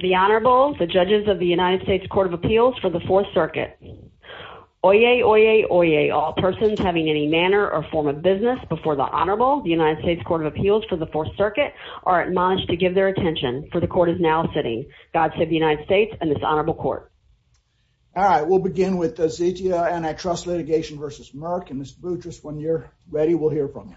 The Honorable, the judges of the United States Court of Appeals for the Fourth Circuit. Oyez, oyez, oyez, all persons having any manner or form of business before the Honorable, the United States Court of Appeals for the Fourth Circuit, are admonished to give their attention, for the Court is now sitting. God save the United States and this Honorable Court. All right, we'll begin with Zetia Antitrust Litigation v. Merck, and Mr. Boutrous, when you're ready, we'll hear from you.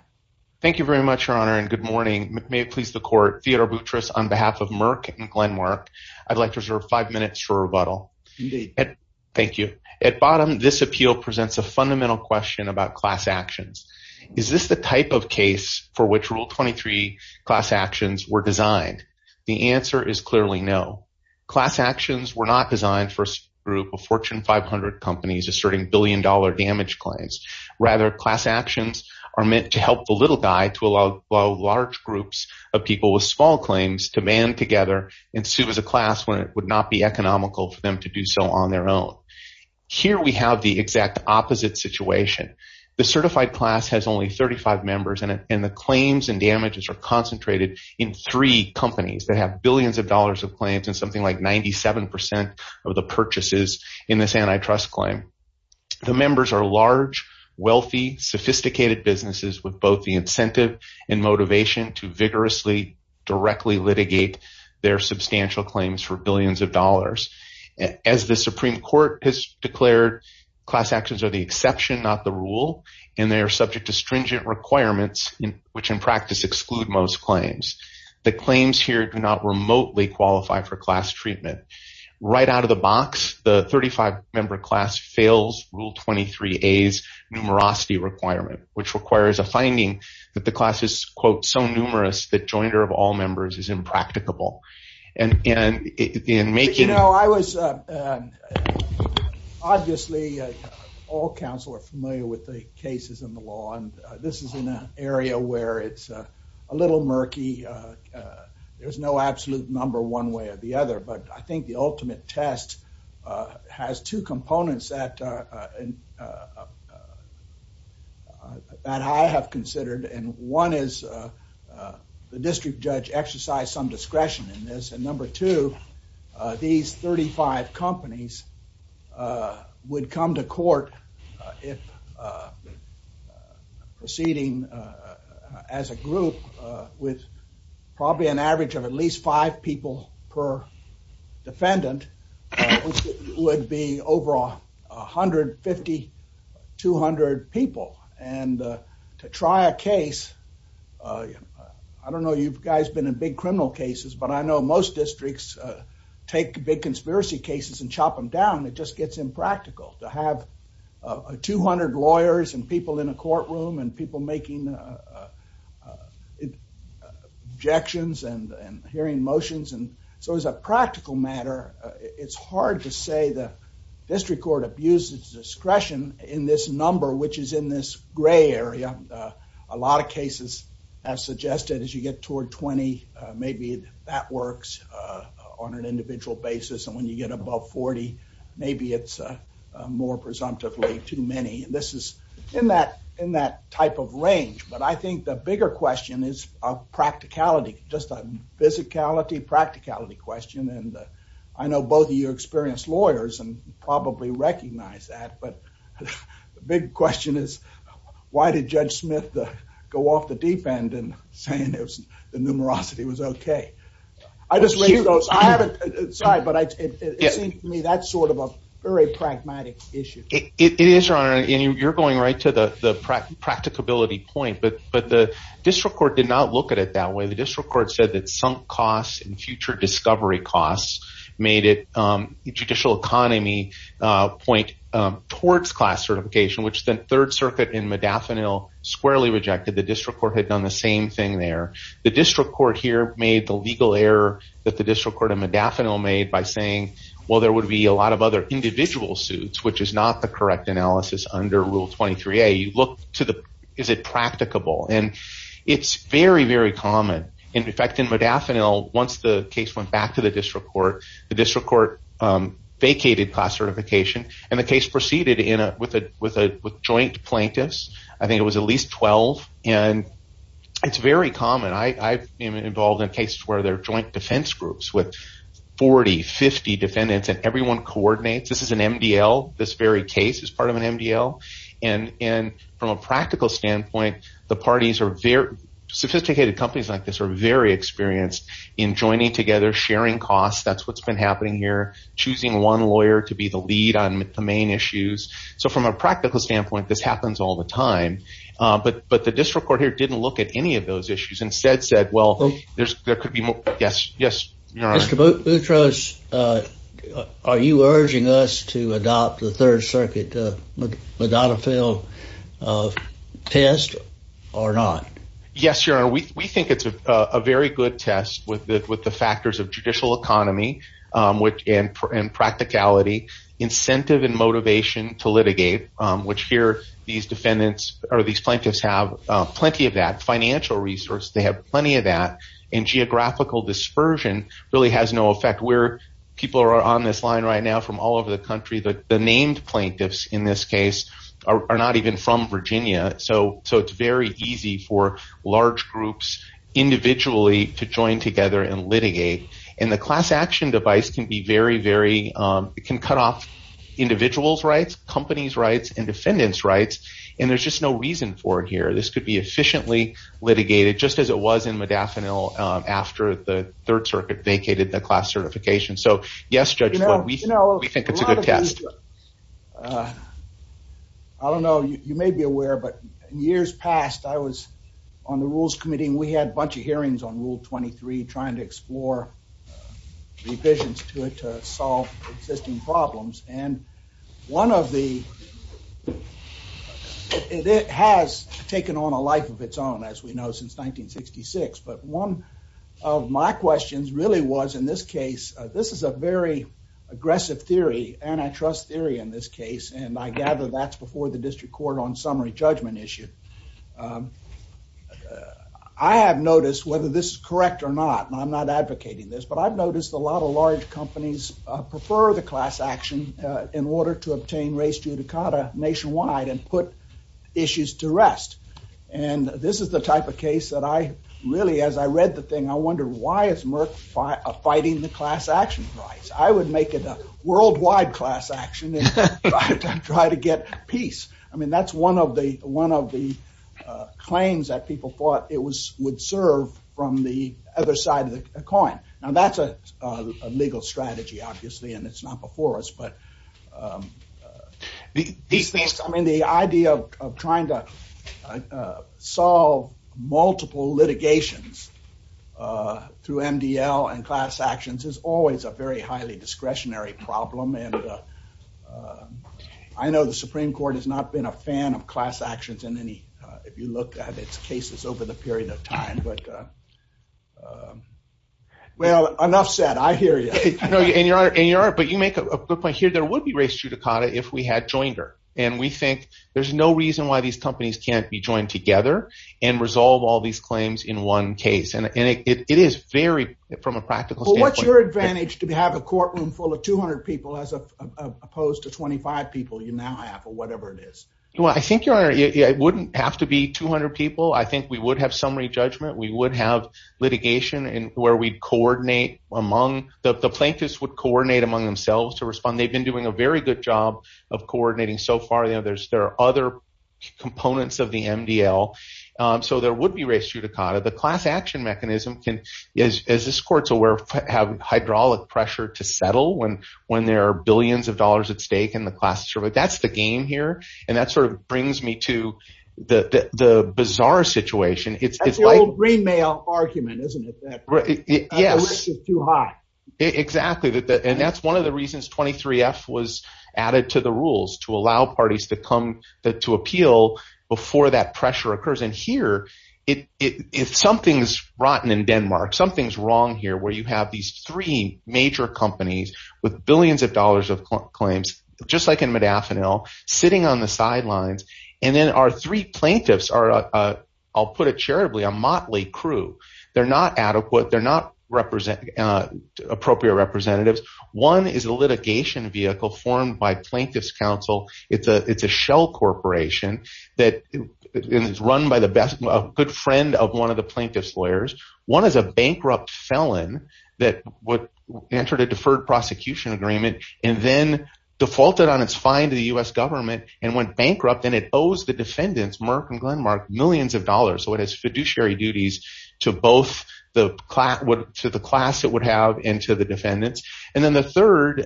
Thank you very much, Your Honor, and good morning. May it please the Court, Theodore Boutrous on behalf of Merck and Glen Merck, I'd like to reserve five minutes for rebuttal. Thank you. At bottom, this appeal presents a fundamental question about class actions. Is this the type of case for which Rule 23 class actions were designed? The answer is clearly no. Class actions were not designed for a group of Fortune 500 companies asserting billion-dollar damage claims. Rather, class actions are meant to help the little guy to allow large groups of people with small claims to band together and sue as a class when it would not be economical for them to do so on their own. Here we have the exact opposite situation. The certified class has only 35 members, and the claims and damages are concentrated in three companies that have billions of dollars of claims and something like 97% of the purchases in this antitrust claim. The members are large, wealthy, sophisticated businesses with both the incentive and motivation to vigorously, directly litigate their substantial claims for billions of dollars. As the Supreme Court has declared, class actions are the exception, not the rule, and they are subject to stringent requirements, which in practice exclude most claims. The claims here do not remotely qualify for class treatment. Right out of the box, the 35-member class fails Rule 23A's numerosity requirement, which requires a finding that the class is, quote, so numerous that jointer of all members is impracticable. And in making— judge exercise some discretion in this. And number two, these 35 companies would come to court if proceeding as a group with probably an average of at least five people per defendant, which would be over 150, 200 people. And to try a case—I don't know, you guys have been in big criminal cases, but I know most districts take big conspiracy cases and chop them down. It just gets impractical to have 200 lawyers and people in a courtroom and people making objections and hearing motions. And so as a practical matter, it's hard to say the district court abuses discretion in this number, which is in this gray area. A lot of cases have suggested as you get toward 20, maybe that works on an individual basis, and when you get above 40, maybe it's more presumptively too many. And this is in that type of range. But I think the bigger question is a practicality, just a physicality, practicality question. And I know both of you are experienced lawyers and probably recognize that. But the big question is, why did Judge Smith go off the deep end and say the numerosity was okay? I just raised those—I haven't—sorry, but it seems to me that's sort of a very pragmatic issue. It is, Your Honor, and you're going right to the practicability point. But the district court did not look at it that way. The district court said that sunk costs and future discovery costs made it—the judicial economy point towards class certification, which the Third Circuit in Medafinil squarely rejected. The district court had done the same thing there. The district court here made the legal error that the district court in Medafinil made by saying, well, there would be a lot of other individual suits, which is not the correct analysis under Rule 23a. You look to the—is it practicable? And it's very, very common. In fact, in Medafinil, once the case went back to the district court, the district court vacated class certification, and the case proceeded with joint plaintiffs. I think it was at least 12, and it's very common. I've been involved in cases where there are joint defense groups with 40, 50 defendants, and everyone coordinates. This is an MDL. This very case is part of an MDL. And from a practical standpoint, the parties are very—sophisticated companies like this are very experienced in joining together, sharing costs. That's what's been happening here, choosing one lawyer to be the lead on the main issues. So from a practical standpoint, this happens all the time. But the district court here didn't look at any of those issues. Instead said, well, there could be—yes, Your Honor. Mr. Boutros, are you urging us to adopt the Third Circuit Medafinil test or not? People are on this line right now from all over the country. The named plaintiffs in this case are not even from Virginia. So it's very easy for large groups individually to join together and litigate. And the class action device can be very, very—it can cut off individuals' rights, companies' rights, and defendants' rights, and there's just no reason for it here. This could be efficiently litigated, just as it was in Medafinil after the Third Circuit vacated the class certification. So yes, Judge Floyd, we think it's a good test. I don't know. You may be aware, but in years past, I was on the Rules Committee, and we had a bunch of hearings on Rule 23, trying to explore revisions to it to solve existing problems. And one of the—it has taken on a life of its own, as we know, since 1966. But one of my questions really was, in this case—this is a very aggressive theory, antitrust theory in this case, and I gather that's before the District Court on summary judgment issue. I have noticed, whether this is correct or not, and I'm not advocating this, but I've noticed a lot of large companies prefer the class action in order to obtain res judicata nationwide and put issues to rest. And this is the type of case that I really, as I read the thing, I wondered, why is Merck fighting the class action rights? I would make it a worldwide class action and try to get peace. I mean, that's one of the claims that people thought it would serve from the other side of the coin. Now, that's a legal strategy, obviously, and it's not before us, but the idea of trying to solve multiple litigations through MDL and class actions is always a very highly discretionary problem. And I know the Supreme Court has not been a fan of class actions in any—if you look at its cases over the period of time, but—well, enough said. I hear you. But you make a good point here. There would be res judicata if we had joined her, and we think there's no reason why these companies can't be joined together and resolve all these claims in one case. And it is very—from a practical standpoint— Well, what's your advantage to have a courtroom full of 200 people as opposed to 25 people you now have, or whatever it is? Well, I think, Your Honor, it wouldn't have to be 200 people. I think we would have summary judgment. We would have litigation where we'd coordinate among—the plaintiffs would coordinate among themselves to respond. They've been doing a very good job of coordinating so far. There are other components of the MDL, so there would be res judicata. The class action mechanism can, as this court's aware, have hydraulic pressure to settle when there are billions of dollars at stake in the class. That's the game here, and that sort of brings me to the bizarre situation. That's the old Greenmail argument, isn't it? Yes. The risk is too high. Exactly. And that's one of the reasons 23F was added to the rules, to allow parties to come to appeal before that pressure occurs. And here, if something's rotten in Denmark, something's wrong here where you have these three major companies with billions of dollars of claims, just like in Modafinil, sitting on the sidelines, and then our three plaintiffs are, I'll put it charitably, a motley crew. They're not adequate. They're not appropriate representatives. One is a litigation vehicle formed by Plaintiffs' Council. It's a shell corporation that is run by a good friend of one of the plaintiffs' lawyers. One is a bankrupt felon that entered a deferred prosecution agreement and then defaulted on its fine to the U.S. government and went bankrupt, and it owes the defendants, Merck and Glenmark, millions of dollars. So it has fiduciary duties to both the class it would have and to the defendants. And then the third,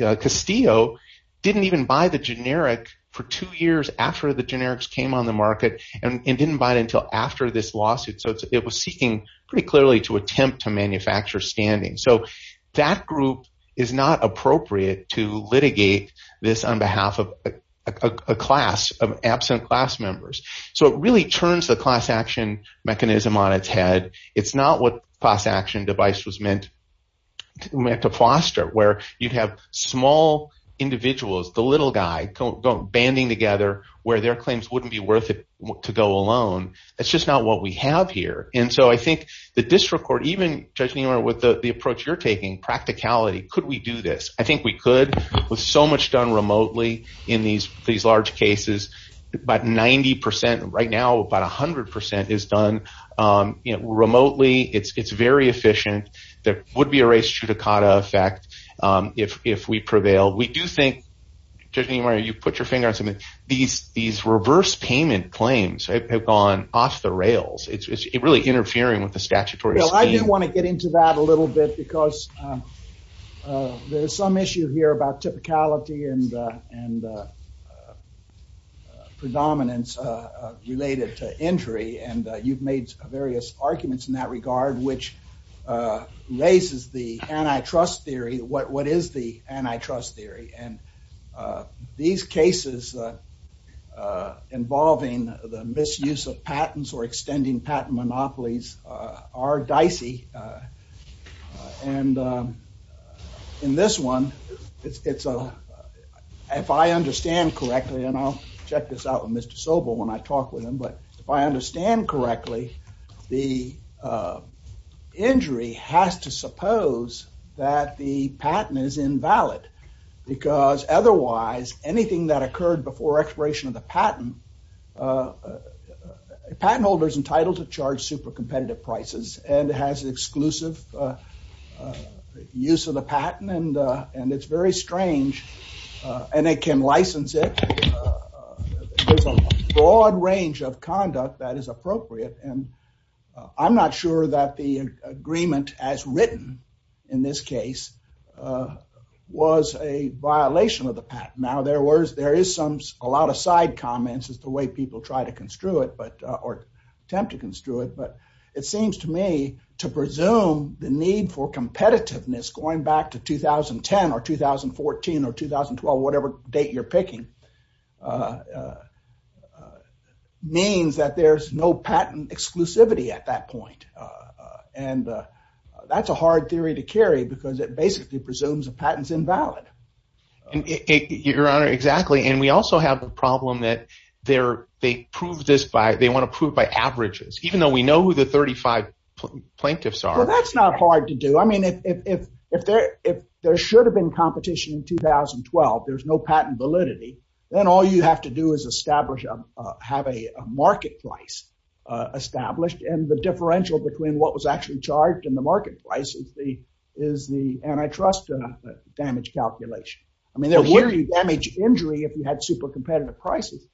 Castillo, didn't even buy the generic for two years after the generics came on the market and didn't buy it until after this lawsuit. So it was seeking pretty clearly to attempt to manufacture standing. So that group is not appropriate to litigate this on behalf of a class of absent class members. So it really turns the class action mechanism on its head. It's not what class action device was meant to foster, where you'd have small individuals, the little guy, banding together where their claims wouldn't be worth it to go alone. That's just not what we have here. And so I think the district court, even, Judge Niemeyer, with the approach you're taking, practicality, could we do this? I think we could. With so much done remotely in these large cases, about 90 percent, right now about 100 percent is done remotely. It's very efficient. There would be a res judicata effect if we prevail. We do think, Judge Niemeyer, you put your finger on something. These reverse payment claims have gone off the rails. It's really interfering with the statutory scheme. I do want to get into that a little bit because there's some issue here about typicality and predominance related to injury. And you've made various arguments in that regard, which raises the antitrust theory. What is the antitrust theory? And these cases involving the misuse of patents or extending patent monopolies are dicey. And in this one, if I understand correctly, and I'll check this out with Mr. Sobel when I talk with him, but if I understand correctly, the injury has to suppose that the patent is invalid. Because otherwise, anything that occurred before expiration of the patent, a patent holder is entitled to charge super competitive prices and has exclusive use of the patent. And it's very strange. And they can license it. There's a broad range of conduct that is appropriate. And I'm not sure that the agreement as written in this case was a violation of the patent. Now, there is a lot of side comments as to the way people try to construe it or attempt to construe it. But it seems to me to presume the need for competitiveness going back to 2010 or 2014 or 2012, whatever date you're picking, means that there's no patent exclusivity at that point. And that's a hard theory to carry because it basically presumes a patent's invalid. Your Honor, exactly. And we also have a problem that they want to prove by averages, even though we know who the 35 plaintiffs are. Well, that's not hard to do. I mean, if there should have been competition in 2012, there's no patent validity, then all you have to do is have a market price established. And the differential between what was actually charged and the market price is the antitrust damage calculation. I mean, there would be damage injury if you had super competitive prices.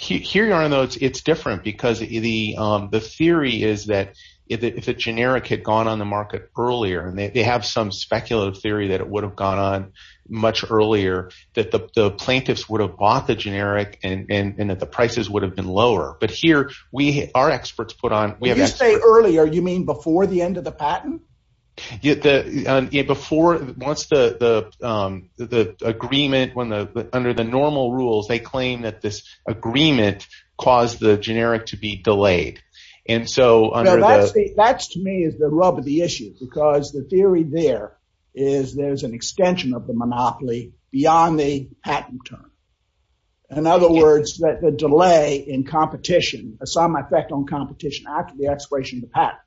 Your Honor, it's different because the theory is that if a generic had gone on the market earlier, and they have some speculative theory that it would have gone on much earlier, that the plaintiffs would have bought the generic and that the prices would have been lower. But here, our experts put on – When you say earlier, you mean before the end of the patent? Before – once the agreement – under the normal rules, they claim that this agreement caused the generic to be delayed. And so – That, to me, is the rub of the issue, because the theory there is there's an extension of the monopoly beyond the patent term. In other words, the delay in competition, some effect on competition after the expiration of the patent.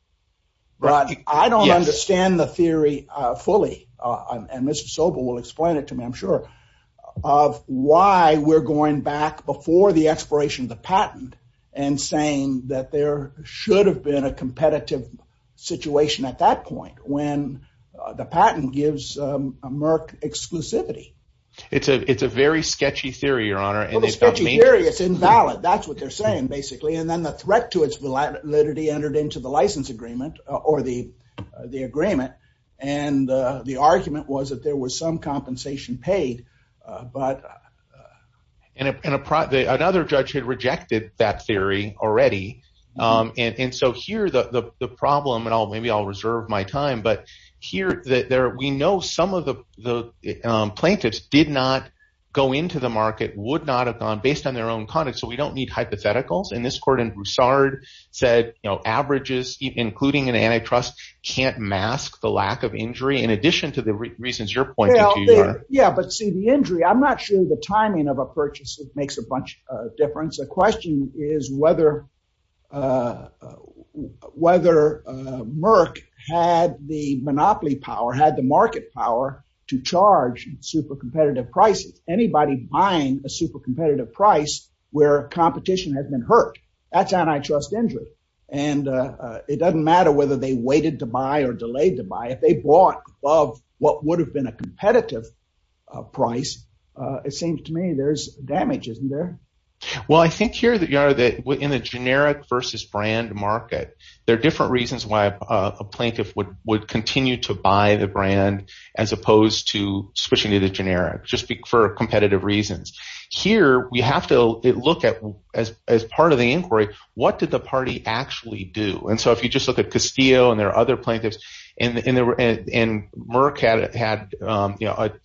But I don't understand the theory fully, and Mr. Sobel will explain it to me, I'm sure, of why we're going back before the expiration of the patent and saying that there should have been a competitive situation at that point when the patent gives a Merck exclusivity. It's a very sketchy theory, Your Honor. Well, it's a sketchy theory. It's invalid. That's what they're saying basically. And then the threat to its validity entered into the license agreement or the agreement. And the argument was that there was some compensation paid, but… Another judge had rejected that theory already. And so here the problem – and maybe I'll reserve my time – but here we know some of the plaintiffs did not go into the market, would not have gone, based on their own conduct. So we don't need hypotheticals. And this court in Broussard said averages, including an antitrust, can't mask the lack of injury in addition to the reasons you're pointing to, Your Honor. Yeah, but see, the injury – I'm not sure the timing of a purchase makes a bunch of difference. The question is whether Merck had the monopoly power, had the market power to charge super competitive prices. Anybody buying a super competitive price where competition had been hurt, that's antitrust injury. And it doesn't matter whether they waited to buy or delayed to buy. If they bought above what would have been a competitive price, it seems to me there's damage, isn't there? Well, I think here, Your Honor, that in a generic versus brand market, there are different reasons why a plaintiff would continue to buy the brand as opposed to switching to the generic, just for competitive reasons. Here, we have to look at, as part of the inquiry, what did the party actually do? And so if you just look at Castillo and there are other plaintiffs, and Merck had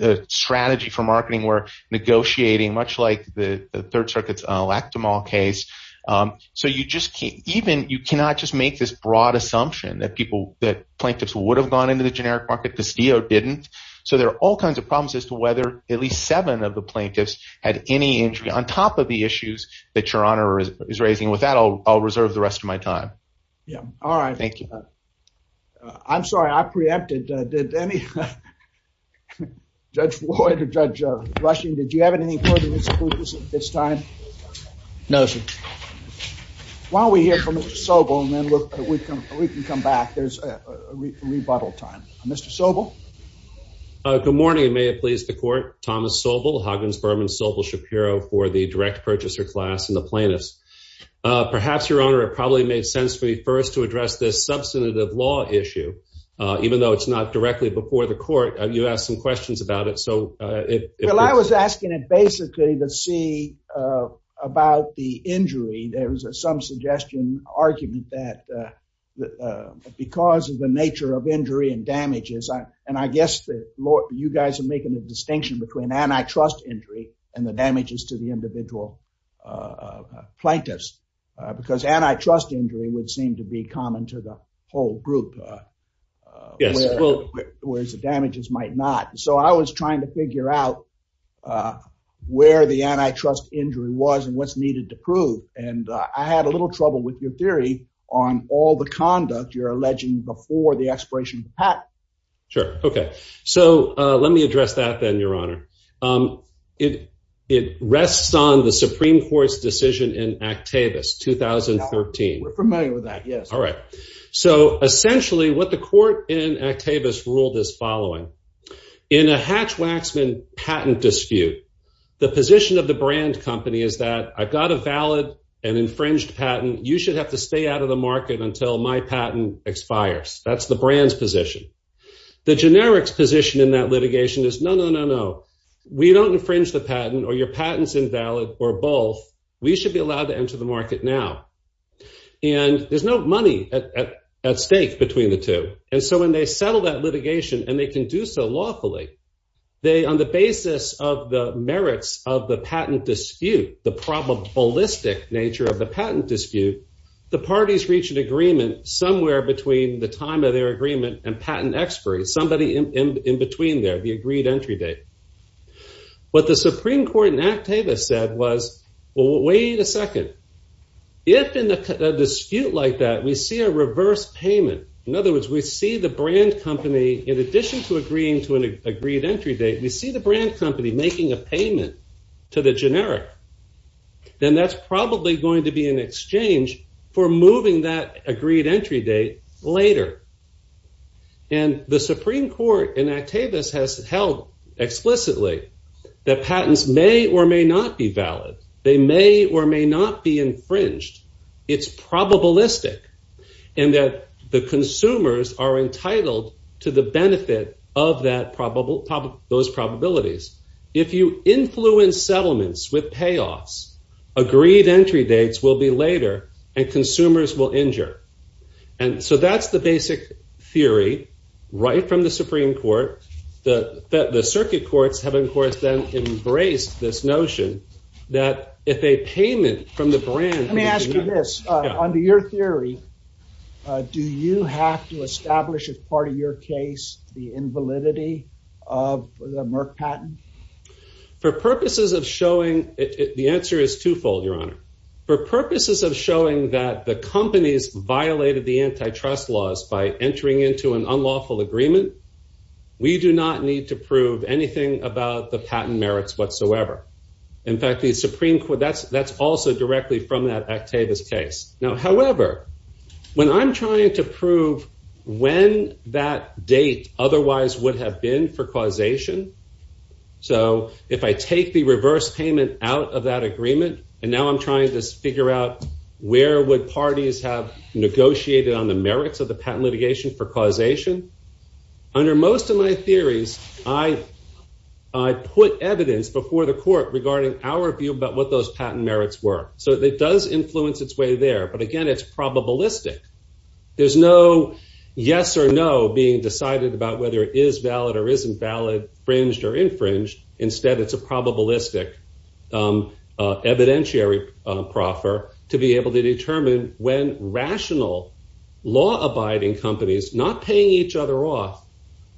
a strategy for marketing where negotiating, much like the Third Circuit's Lactamol case. So you just – even – you cannot just make this broad assumption that people – that plaintiffs would have gone into the generic market. Castillo didn't. So there are all kinds of problems as to whether at least seven of the plaintiffs had any injury on top of the issues that Your Honor is raising. With that, I'll reserve the rest of my time. Yeah. All right. I'm sorry. I preempted. Did any – Judge Floyd or Judge Rushing, did you have anything further to say at this time? No, sir. Why don't we hear from Mr. Sobel and then we can come back. There's a rebuttal time. Mr. Sobel? Good morning, and may it please the Court. Thomas Sobel, Huggins-Berman, Sobel Shapiro for the direct purchaser class and the plaintiffs. Perhaps, Your Honor, it probably made sense for me first to address this substantive law issue, even though it's not directly before the Court. You asked some questions about it, so if – I was asking it basically to see about the injury. There was some suggestion, argument that because of the nature of injury and damages – and I guess that you guys are making a distinction between antitrust injury and the damages to the individual plaintiffs, because antitrust injury would seem to be common to the whole group. Yes, it would. Whereas the damages might not. So I was trying to figure out where the antitrust injury was and what's needed to prove, and I had a little trouble with your theory on all the conduct you're alleging before the expiration of the patent. Sure. Okay. So let me address that then, Your Honor. It rests on the Supreme Court's decision in Actavis, 2013. We're familiar with that, yes. All right. So essentially what the court in Actavis ruled is following. In a Hatch-Waxman patent dispute, the position of the brand company is that I've got a valid and infringed patent. You should have to stay out of the market until my patent expires. That's the brand's position. The generics position in that litigation is, no, no, no, no. We don't infringe the patent, or your patent's invalid, or both. We should be allowed to enter the market now. And there's no money at stake between the two. And so when they settle that litigation, and they can do so lawfully, on the basis of the merits of the patent dispute, the probabilistic nature of the patent dispute, the parties reach an agreement somewhere between the time of their agreement and patent expiry, somebody in between there, the agreed entry date. What the Supreme Court in Actavis said was, well, wait a second. If in a dispute like that we see a reverse payment, in other words, we see the brand company, in addition to agreeing to an agreed entry date, we see the brand company making a payment to the generic, then that's probably going to be an exchange for moving that agreed entry date later. And the Supreme Court in Actavis has held explicitly that patents may or may not be valid. They may or may not be infringed. It's probabilistic in that the consumers are entitled to the benefit of those probabilities. If you influence settlements with payoffs, agreed entry dates will be later, and consumers will injure. And so that's the basic theory right from the Supreme Court. The circuit courts have, of course, then embraced this notion that if a payment from the brand— For purposes of showing—the answer is twofold, Your Honor. For purposes of showing that the companies violated the antitrust laws by entering into an unlawful agreement, we do not need to prove anything about the patent merits whatsoever. In fact, that's also directly from that Actavis case. Now, however, when I'm trying to prove when that date otherwise would have been for causation, so if I take the reverse payment out of that agreement, and now I'm trying to figure out where would parties have negotiated on the merits of the patent litigation for causation, under most of my theories, I put evidence before the court regarding our view about what those patent merits were. So it does influence its way there. But again, it's probabilistic. There's no yes or no being decided about whether it is valid or isn't valid, fringed or infringed. Instead, it's a probabilistic evidentiary proffer to be able to determine when rational, law-abiding companies not paying each other off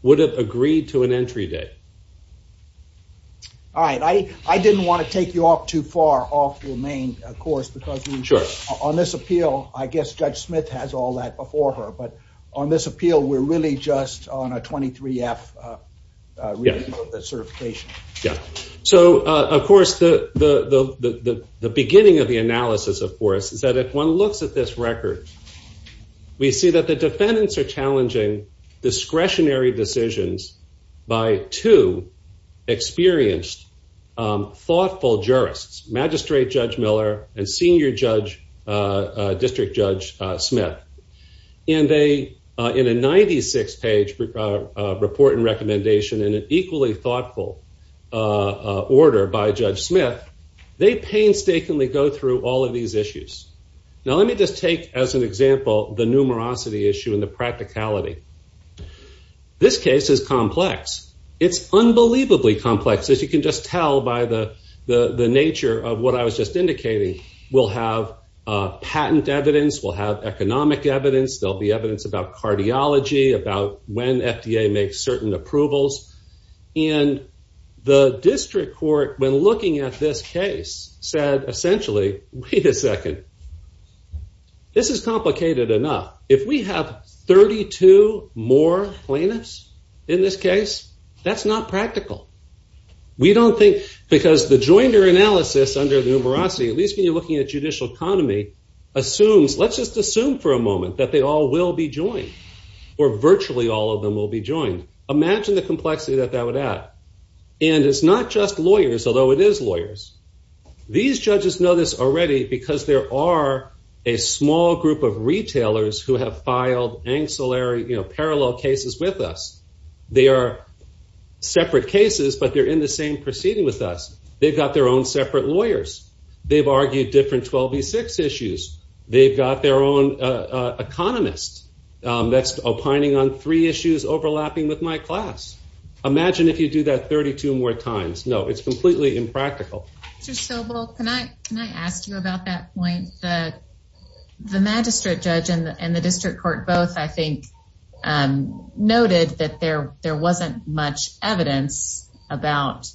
would have agreed to an entry date. All right. I didn't want to take you off too far off your main course because on this appeal, I guess Judge Smith has all that before her, but on this appeal, we're really just on a 23F certification. Yeah. So of course, the beginning of the analysis, of course, is that if one looks at this record, we see that the defendants are challenging discretionary decisions by two experienced, thoughtful jurists, Magistrate Judge Miller and Senior District Judge Smith. And in a 96-page report and recommendation in an equally thoughtful order by Judge Smith, they painstakingly go through all of these issues. Now, let me just take as an example the numerosity issue and the practicality. This case is complex. It's unbelievably complex, as you can just tell by the nature of what I was just indicating. We'll have patent evidence. We'll have economic evidence. There'll be evidence about cardiology, about when FDA makes certain approvals. And the district court, when looking at this case, said, essentially, wait a second. This is complicated enough. If we have 32 more plaintiffs in this case, that's not practical. We don't think, because the joinder analysis under the numerosity, at least when you're looking at judicial economy, assumes, let's just assume for a moment, that they all will be joined, or virtually all of them will be joined. Imagine the complexity that that would add. And it's not just lawyers, although it is lawyers. These judges know this already, because there are a small group of retailers who have filed ancillary, parallel cases with us. They are separate cases, but they're in the same proceeding with us. They've got their own separate lawyers. They've argued different 12v6 issues. They've got their own economist that's opining on three issues overlapping with my class. Imagine if you do that 32 more times. No, it's completely impractical. Mr. Sobel, can I ask you about that point? The magistrate judge and the district court both, I think, noted that there wasn't much evidence about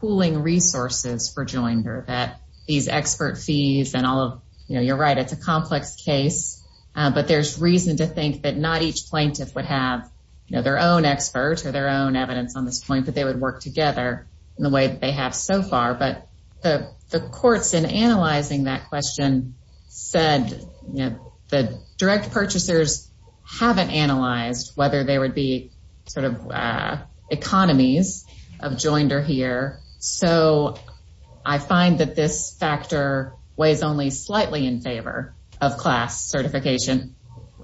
pooling resources for joinder, that these expert fees and all of, you know, you're right, it's a complex case. But there's reason to think that not each plaintiff would have, you know, their own expert or their own evidence on this point, but they would work together in the way that they have so far. But the courts in analyzing that question said, you know, the direct purchasers haven't analyzed whether there would be sort of economies of joinder here. So I find that this factor weighs only slightly in favor of class certification.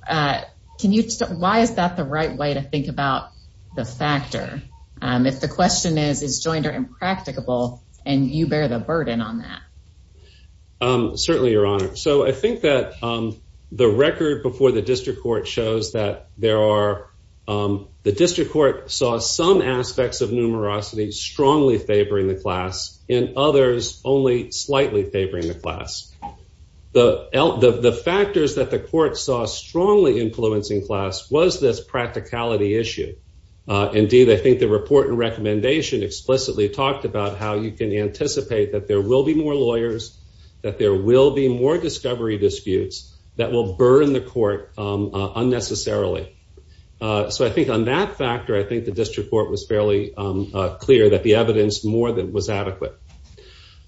Can you, why is that the right way to think about the factor? If the question is, is joinder impracticable and you bear the burden on that? Certainly, Your Honor. So I think that the record before the district court shows that there are, the district court saw some aspects of numerosity strongly favoring the class and others only slightly favoring the class. The factors that the court saw strongly influencing class was this practicality issue. Indeed, I think the report and recommendation explicitly talked about how you can anticipate that there will be more lawyers, that there will be more discovery disputes that will burn the court unnecessarily. So I think on that factor, I think the district court was fairly clear that the evidence more than was adequate.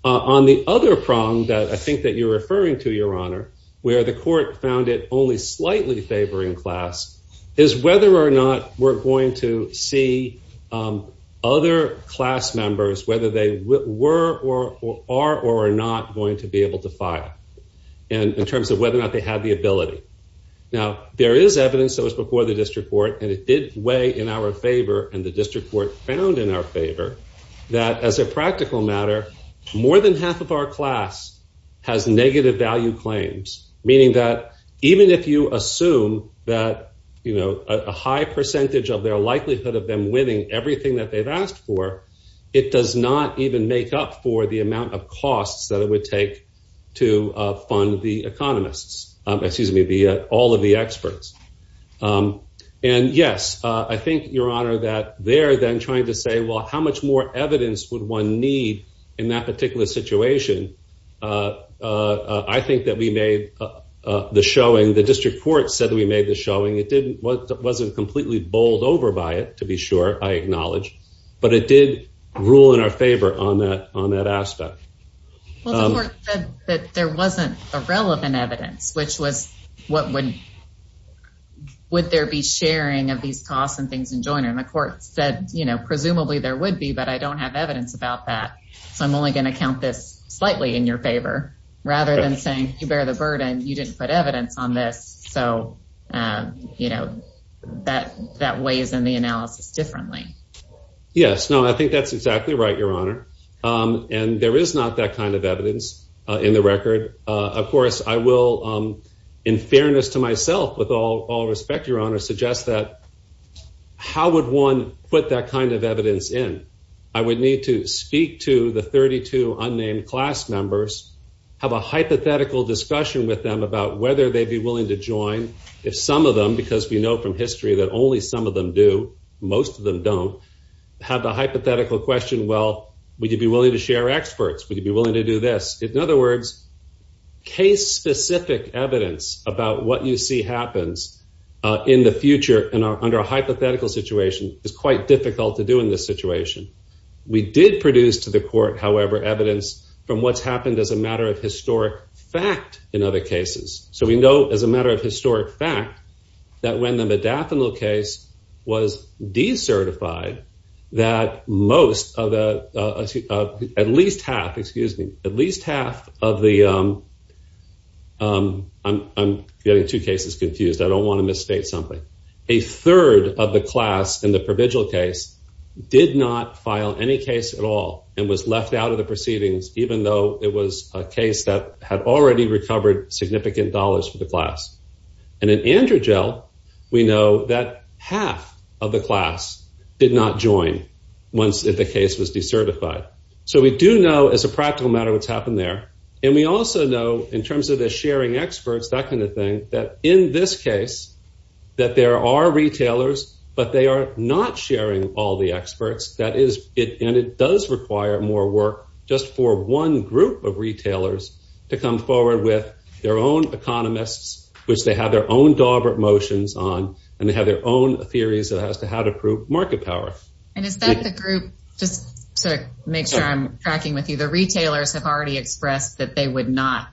On the other prong that I think that you're referring to, Your Honor, where the court found it only slightly favoring class is whether or not we're going to see other class members, whether they were or are or are not going to be able to file. And in terms of whether or not they had the ability. Now, there is evidence that was before the district court and it did weigh in our favor and the district court found in our favor that as a practical matter, more than half of our class has negative value claims, meaning that even if you assume that, you know, a high percentage of their likelihood of them winning everything that they've asked for. It does not even make up for the amount of costs that it would take to fund the economists, excuse me, all of the experts. And yes, I think, Your Honor, that they're then trying to say, well, how much more evidence would one need in that particular situation? I think that we made the showing the district court said that we made the showing it didn't wasn't completely bowled over by it, to be sure. I acknowledge, but it did rule in our favor on that on that aspect. But there wasn't a relevant evidence, which was what would. Would there be sharing of these costs and things in joining the court said, you know, presumably there would be, but I don't have evidence about that. So I'm only going to count this slightly in your favor, rather than saying you bear the burden. You didn't put evidence on this. So, you know, that that weighs in the analysis differently. Yes, no, I think that's exactly right, Your Honor. And there is not that kind of evidence in the record. Of course, I will, in fairness to myself, with all all respect, Your Honor, suggest that how would one put that kind of evidence in? I would need to speak to the 32 unnamed class members, have a hypothetical discussion with them about whether they'd be willing to join if some of them, because we know from history that only some of them do, most of them don't have the hypothetical question. Well, would you be willing to share experts? Would you be willing to do this? In other words, case specific evidence about what you see happens in the future and under a hypothetical situation is quite difficult to do in this situation. We did produce to the court, however, evidence from what's happened as a matter of historic fact in other cases. So we know as a matter of historic fact that when the modafinil case was decertified, that most of the at least half, excuse me, at least half of the I'm getting two cases confused. I don't want to misstate something. A third of the class in the provisional case did not file any case at all and was left out of the proceedings, even though it was a case that had already recovered significant dollars for the class. And in Androgel, we know that half of the class did not join once the case was decertified. So we do know as a practical matter what's happened there. And we also know in terms of the sharing experts, that kind of thing, that in this case that there are retailers, but they are not sharing all the experts. That is it. And it does require more work just for one group of retailers to come forward with their own economists, which they have their own dog motions on and they have their own theories as to how to prove market power. And is that the group just to make sure I'm tracking with you? The retailers have already expressed that they would not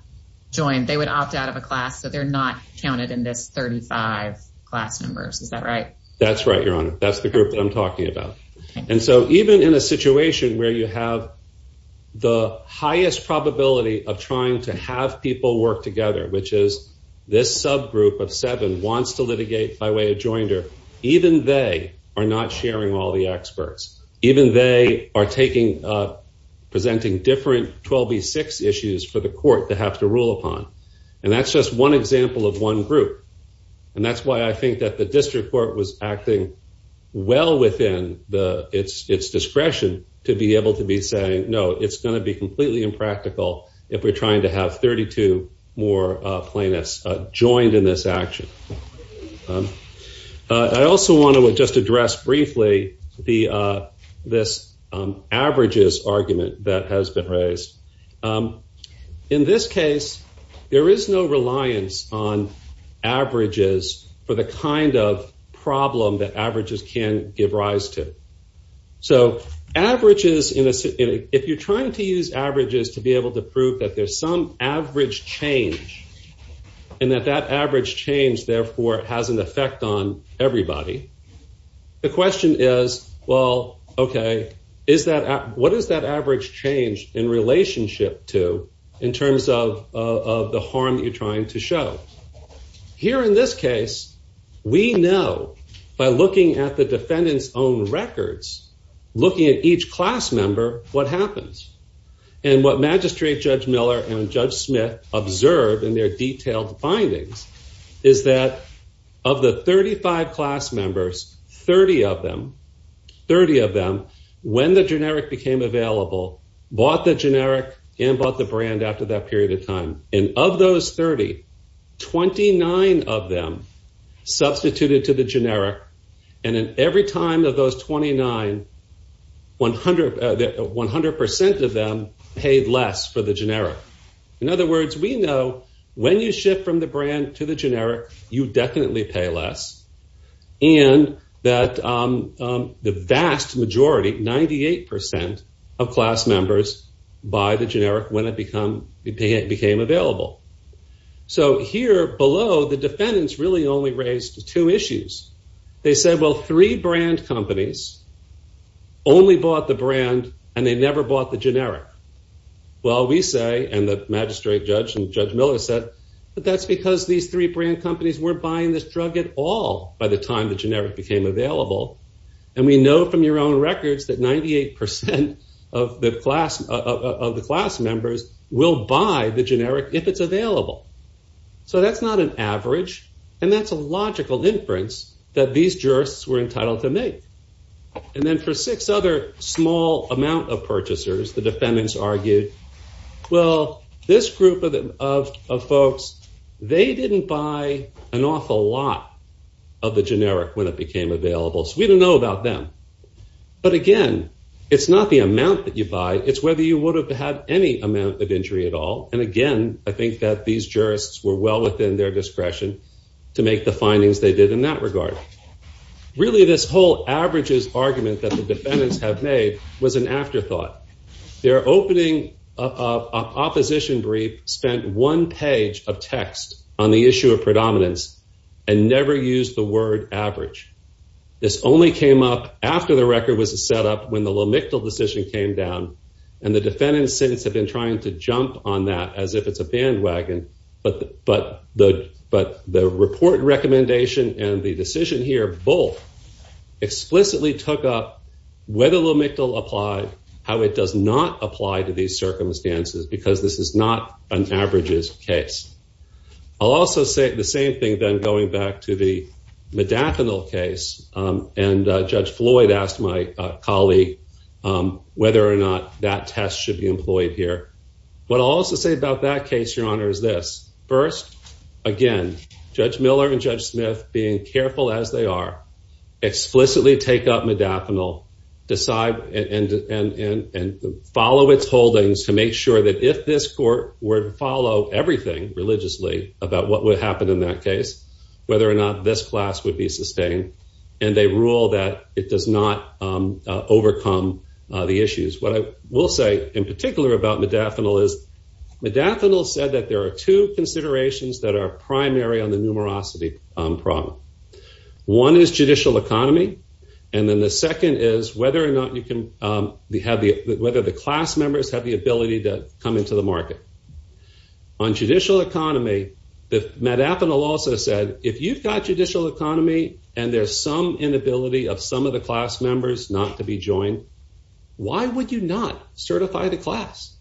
join. They would opt out of a class. So they're not counted in this 35 class numbers. Is that right? That's right, Your Honor. That's the group that I'm talking about. And so even in a situation where you have the highest probability of trying to have people work together, which is this subgroup of seven wants to litigate by way of joinder, even they are not sharing all the experts. Even they are presenting different 12B6 issues for the court to have to rule upon. And that's just one example of one group. And that's why I think that the district court was acting well within its discretion to be able to be saying, no, it's going to be completely impractical if we're trying to have 32 more plaintiffs joined in this action. I also want to just address briefly this averages argument that has been raised. In this case, there is no reliance on averages for the kind of problem that averages can give rise to. So if you're trying to use averages to be able to prove that there's some average change and that that average change, therefore, has an effect on everybody, the question is, well, OK, what does that average change in relationship to in terms of the harm you're trying to show? Here in this case, we know by looking at the defendant's own records, looking at each class member, what happens. And what Magistrate Judge Miller and Judge Smith observed in their detailed findings is that of the 35 class members, 30 of them, 30 of them, when the generic became available, bought the generic and bought the brand after that period of time. And of those 30, 29 of them substituted to the generic. And in every time of those 29, 100 percent of them paid less for the generic. In other words, we know when you shift from the brand to the generic, you definitely pay less. And that the vast majority, 98 percent of class members, buy the generic when it became available. So here below, the defendants really only raised two issues. They said, well, three brand companies only bought the brand and they never bought the generic. Well, we say, and the Magistrate Judge and Judge Miller said, but that's because these three brand companies were buying this drug at all by the time the generic became available. And we know from your own records that 98 percent of the class members will buy the generic if it's available. So that's not an average, and that's a logical inference that these jurists were entitled to make. And then for six other small amount of purchasers, the defendants argued, well, this group of folks, they didn't buy an awful lot of the generic when it became available, so we don't know about them. But again, it's not the amount that you buy, it's whether you would have had any amount of injury at all. And again, I think that these jurists were well within their discretion to make the findings they did in that regard. Really, this whole averages argument that the defendants have made was an afterthought. Their opening opposition brief spent one page of text on the issue of predominance and never used the word average. This only came up after the record was set up when the Lomyctl decision came down, and the defendants have been trying to jump on that as if it's a bandwagon, but the report recommendation and the decision here both explicitly took up whether Lomyctl applied, how it does not apply to these circumstances, because this is not an averages case. I'll also say the same thing then going back to the Modafinil case, and Judge Floyd asked my colleague whether or not that test should be employed here. What I'll also say about that case, Your Honor, is this. First, again, Judge Miller and Judge Smith, being careful as they are, explicitly take up Modafinil and follow its holdings to make sure that if this court were to follow everything religiously about what would happen in that case, whether or not this class would be sustained, and they rule that it does not overcome the issues. What I will say in particular about Modafinil is Modafinil said that there are two considerations that are primary on the numerosity problem. One is judicial economy, and then the second is whether or not the class members have the ability to come into the market. On judicial economy, Modafinil also said if you've got judicial economy and there's some inability of some of the class members not to be joined, why would you not certify the class?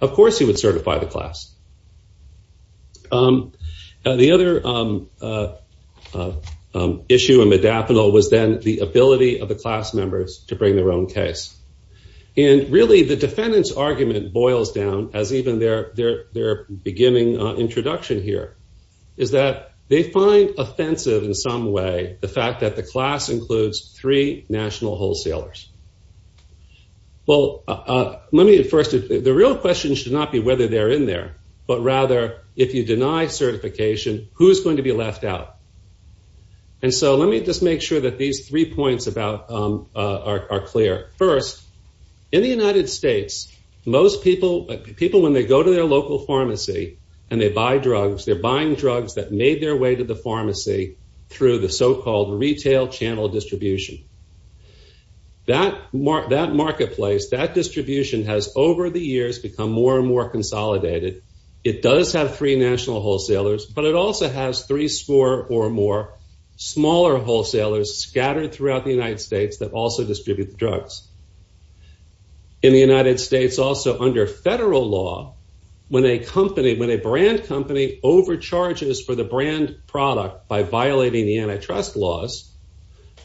Of course he would certify the class. The other issue in Modafinil was then the ability of the class members to bring their own case. And really the defendant's argument boils down, as even their beginning introduction here, is that they find offensive in some way the fact that the class includes three national wholesalers. The real question should not be whether they're in there, but rather if you deny certification, who's going to be left out? And so let me just make sure that these three points are clear. First, in the United States, people when they go to their local pharmacy and they buy drugs, they're buying drugs that made their way to the pharmacy through the so-called retail channel distribution. That marketplace, that distribution has over the years become more and more consolidated. It does have three national wholesalers, but it also has three score or more smaller wholesalers scattered throughout the United States that also distribute the drugs. In the United States, also under federal law, when a brand company overcharges for the brand product by violating the antitrust laws,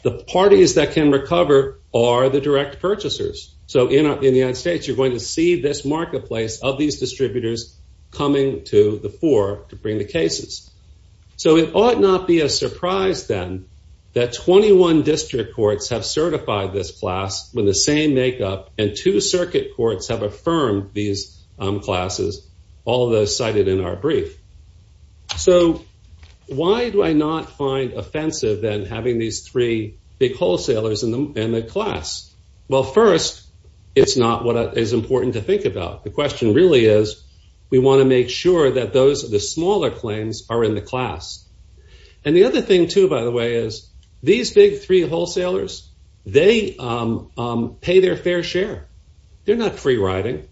the parties that can recover are the direct purchasers. So in the United States, you're going to see this marketplace of these distributors coming to the fore to bring the cases. So it ought not be a surprise then that 21 district courts have certified this class with the same makeup and two circuit courts have affirmed these classes, all of those cited in our brief. So why do I not find offensive than having these three big wholesalers in the class? Well, first, it's not what is important to think about. The question really is we want to make sure that those of the smaller claims are in the class. And the other thing, too, by the way, is these big three wholesalers, they pay their fair share. They're not free riding.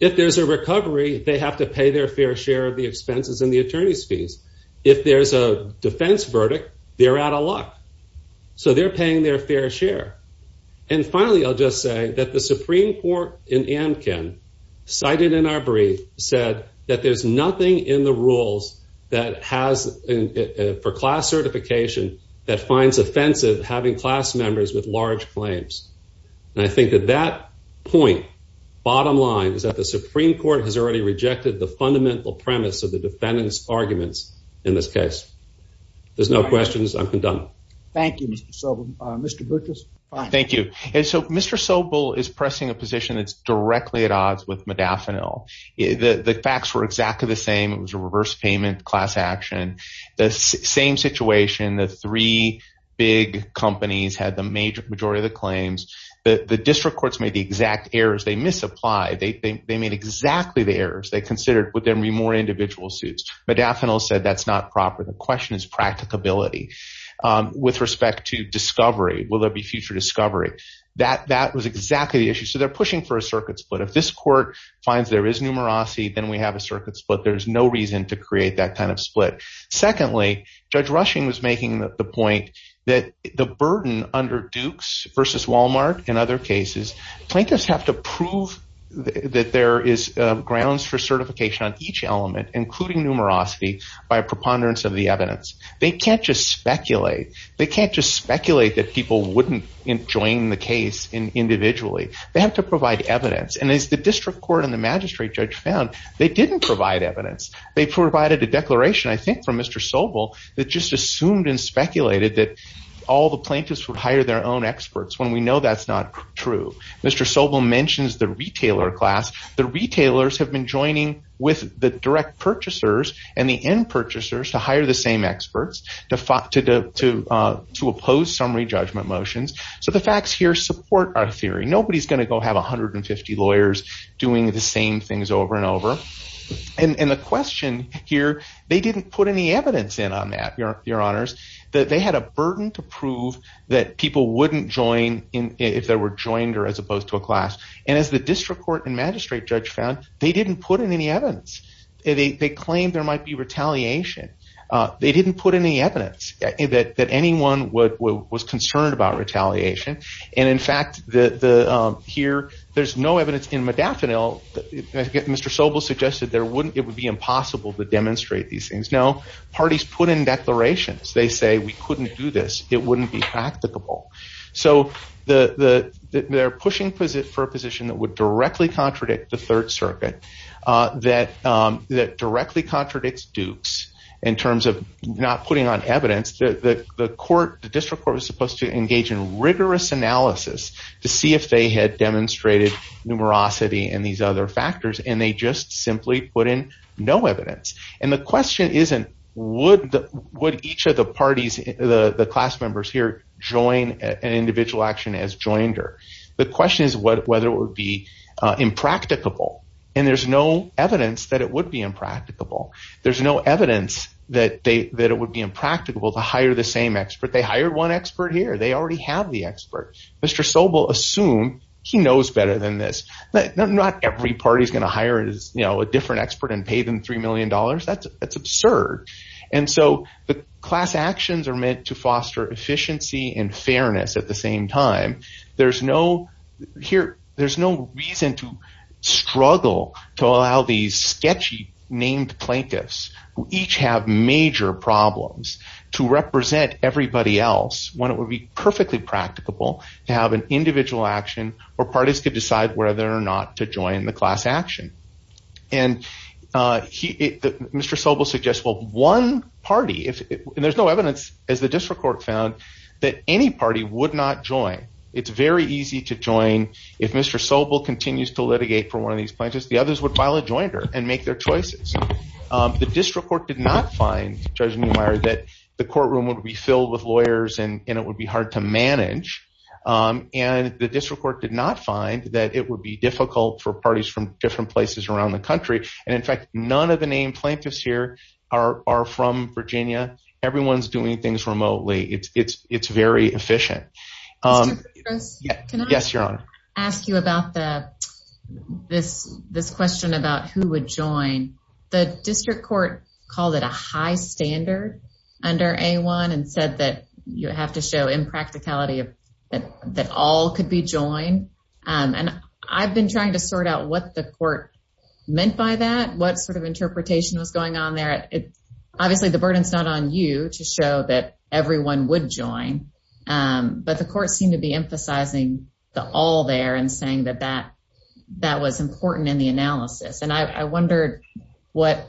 If there's a recovery, they have to pay their fair share of the expenses and the attorney's fees. If there's a defense verdict, they're out of luck. So they're paying their fair share. And finally, I'll just say that the Supreme Court in Amkin cited in our brief said that there's nothing in the rules that has for class certification that finds offensive having class members with large claims. And I think that that point, bottom line, is that the Supreme Court has already rejected the fundamental premise of the defendant's arguments in this case. There's no questions. I'm done. Thank you, Mr. Sobel. Mr. Butkus. Thank you. And so Mr. Sobel is pressing a position that's directly at odds with Modafinil. The facts were exactly the same. It was a reverse payment class action. The same situation, the three big companies had the major majority of the claims. The district courts made the exact errors. They misapplied. They made exactly the errors they considered would there be more individual suits. Modafinil said that's not proper. The question is practicability. With respect to discovery, will there be future discovery? That was exactly the issue. So they're pushing for a circuit split. If this court finds there is numerosity, then we have a circuit split. There's no reason to create that kind of split. Secondly, Judge Rushing was making the point that the burden under Dukes versus Walmart and other cases, plaintiffs have to prove that there is grounds for certification on each element, including numerosity, by preponderance of the evidence. They can't just speculate. They can't just speculate that people wouldn't join the case individually. They have to provide evidence. And as the district court and the magistrate judge found, they didn't provide evidence. They provided a declaration, I think, from Mr. Sobel that just assumed and speculated that all the plaintiffs would hire their own experts when we know that's not true. Mr. Sobel mentions the retailer class. The retailers have been joining with the direct purchasers and the end purchasers to hire the same experts to oppose summary judgment motions. So the facts here support our theory. Nobody's going to go have 150 lawyers doing the same things over and over. And the question here, they didn't put any evidence in on that, Your Honors, that they had a burden to prove that people wouldn't join if they were joined or as opposed to a class. And as the district court and magistrate judge found, they didn't put in any evidence. They claimed there might be retaliation. They didn't put in any evidence that anyone was concerned about retaliation. And in fact, here, there's no evidence in Modafinil. Mr. Sobel suggested it would be impossible to demonstrate these things. Now, parties put in declarations. They say, we couldn't do this. It wouldn't be practicable. So they're pushing for a position that would directly contradict the Third Circuit, that directly contradicts Dukes in terms of not putting on evidence. The district court was supposed to engage in rigorous analysis to see if they had demonstrated numerosity and these other factors, and they just simply put in no evidence. And the question isn't, would each of the parties, the class members here, join an individual action as joinder? The question is whether it would be impracticable. And there's no evidence that it would be impracticable. There's no evidence that it would be impracticable to hire the same expert. They hired one expert here. They already have the expert. Mr. Sobel assumed he knows better than this. Not every party is going to hire a different expert and pay them $3 million. That's absurd. And so the class actions are meant to foster efficiency and fairness at the same time. There's no reason to struggle to allow these sketchy named plaintiffs who each have major problems to represent everybody else when it would be perfectly practicable to have an individual action where parties could decide whether or not to join the class action. And Mr. Sobel suggests, well, one party, and there's no evidence, as the district court found, that any party would not join. It's very easy to join if Mr. Sobel continues to litigate for one of these plaintiffs. The others would file a joinder and make their choices. The district court did not find, Judge Neumeier, that the courtroom would be filled with lawyers and it would be hard to manage. And the district court did not find that it would be difficult for parties from different places around the country. And in fact, none of the named plaintiffs here are from Virginia. Everyone's doing things remotely. It's very efficient. Can I ask you about this question about who would join? The district court called it a high standard under A-1 and said that you have to show impracticality that all could be joined. And I've been trying to sort out what the court meant by that, what sort of interpretation was going on there. Obviously, the burden's not on you to show that everyone would join. But the court seemed to be emphasizing the all there and saying that that was important in the analysis. And I wondered what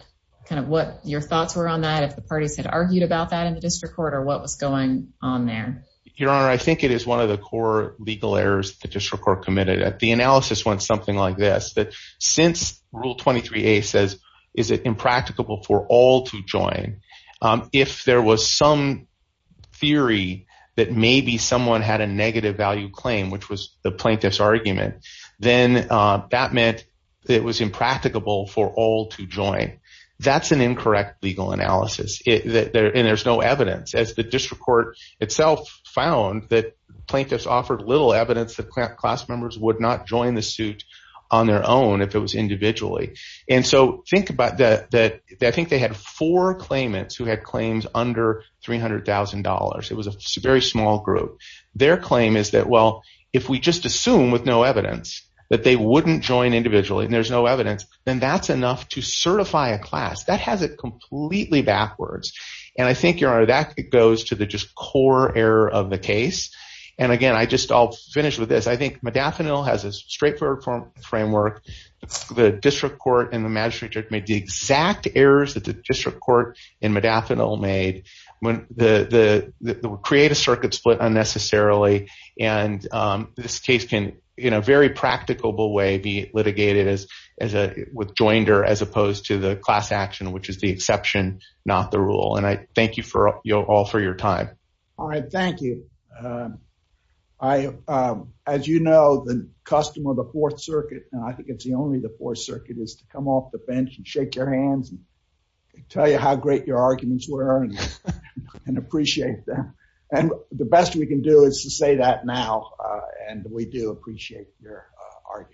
your thoughts were on that, if the parties had argued about that in the district court, or what was going on there. Your Honor, I think it is one of the core legal errors the district court committed. The analysis went something like this. Since Rule 23A says, is it impracticable for all to join, if there was some theory that maybe someone had a negative value claim, which was the plaintiff's argument, then that meant it was impracticable for all to join. That's an incorrect legal analysis, and there's no evidence. As the district court itself found, the plaintiffs offered little evidence that class members would not join the suit on their own if it was individually. And so think about that. I think they had four claimants who had claims under $300,000. It was a very small group. Their claim is that, well, if we just assume with no evidence that they wouldn't join individually and there's no evidence, then that's enough to certify a class. That has it completely backwards. And I think, Your Honor, that goes to the just core error of the case. And again, I'll just finish with this. I think Madaffinil has a straightforward framework. The district court and the magistrate judge made the exact errors that the district court in Madaffinil made. They would create a circuit split unnecessarily. And this case can, in a very practicable way, be litigated as a withjoinder as opposed to the class action, which is the exception, not the rule. And I thank you all for your time. All right. Thank you. I, as you know, the custom of the Fourth Circuit, and I think it's the only the Fourth Circuit, is to come off the bench and shake your hands and tell you how great your arguments were and appreciate them. And the best we can do is to say that now. And we do appreciate your arguments.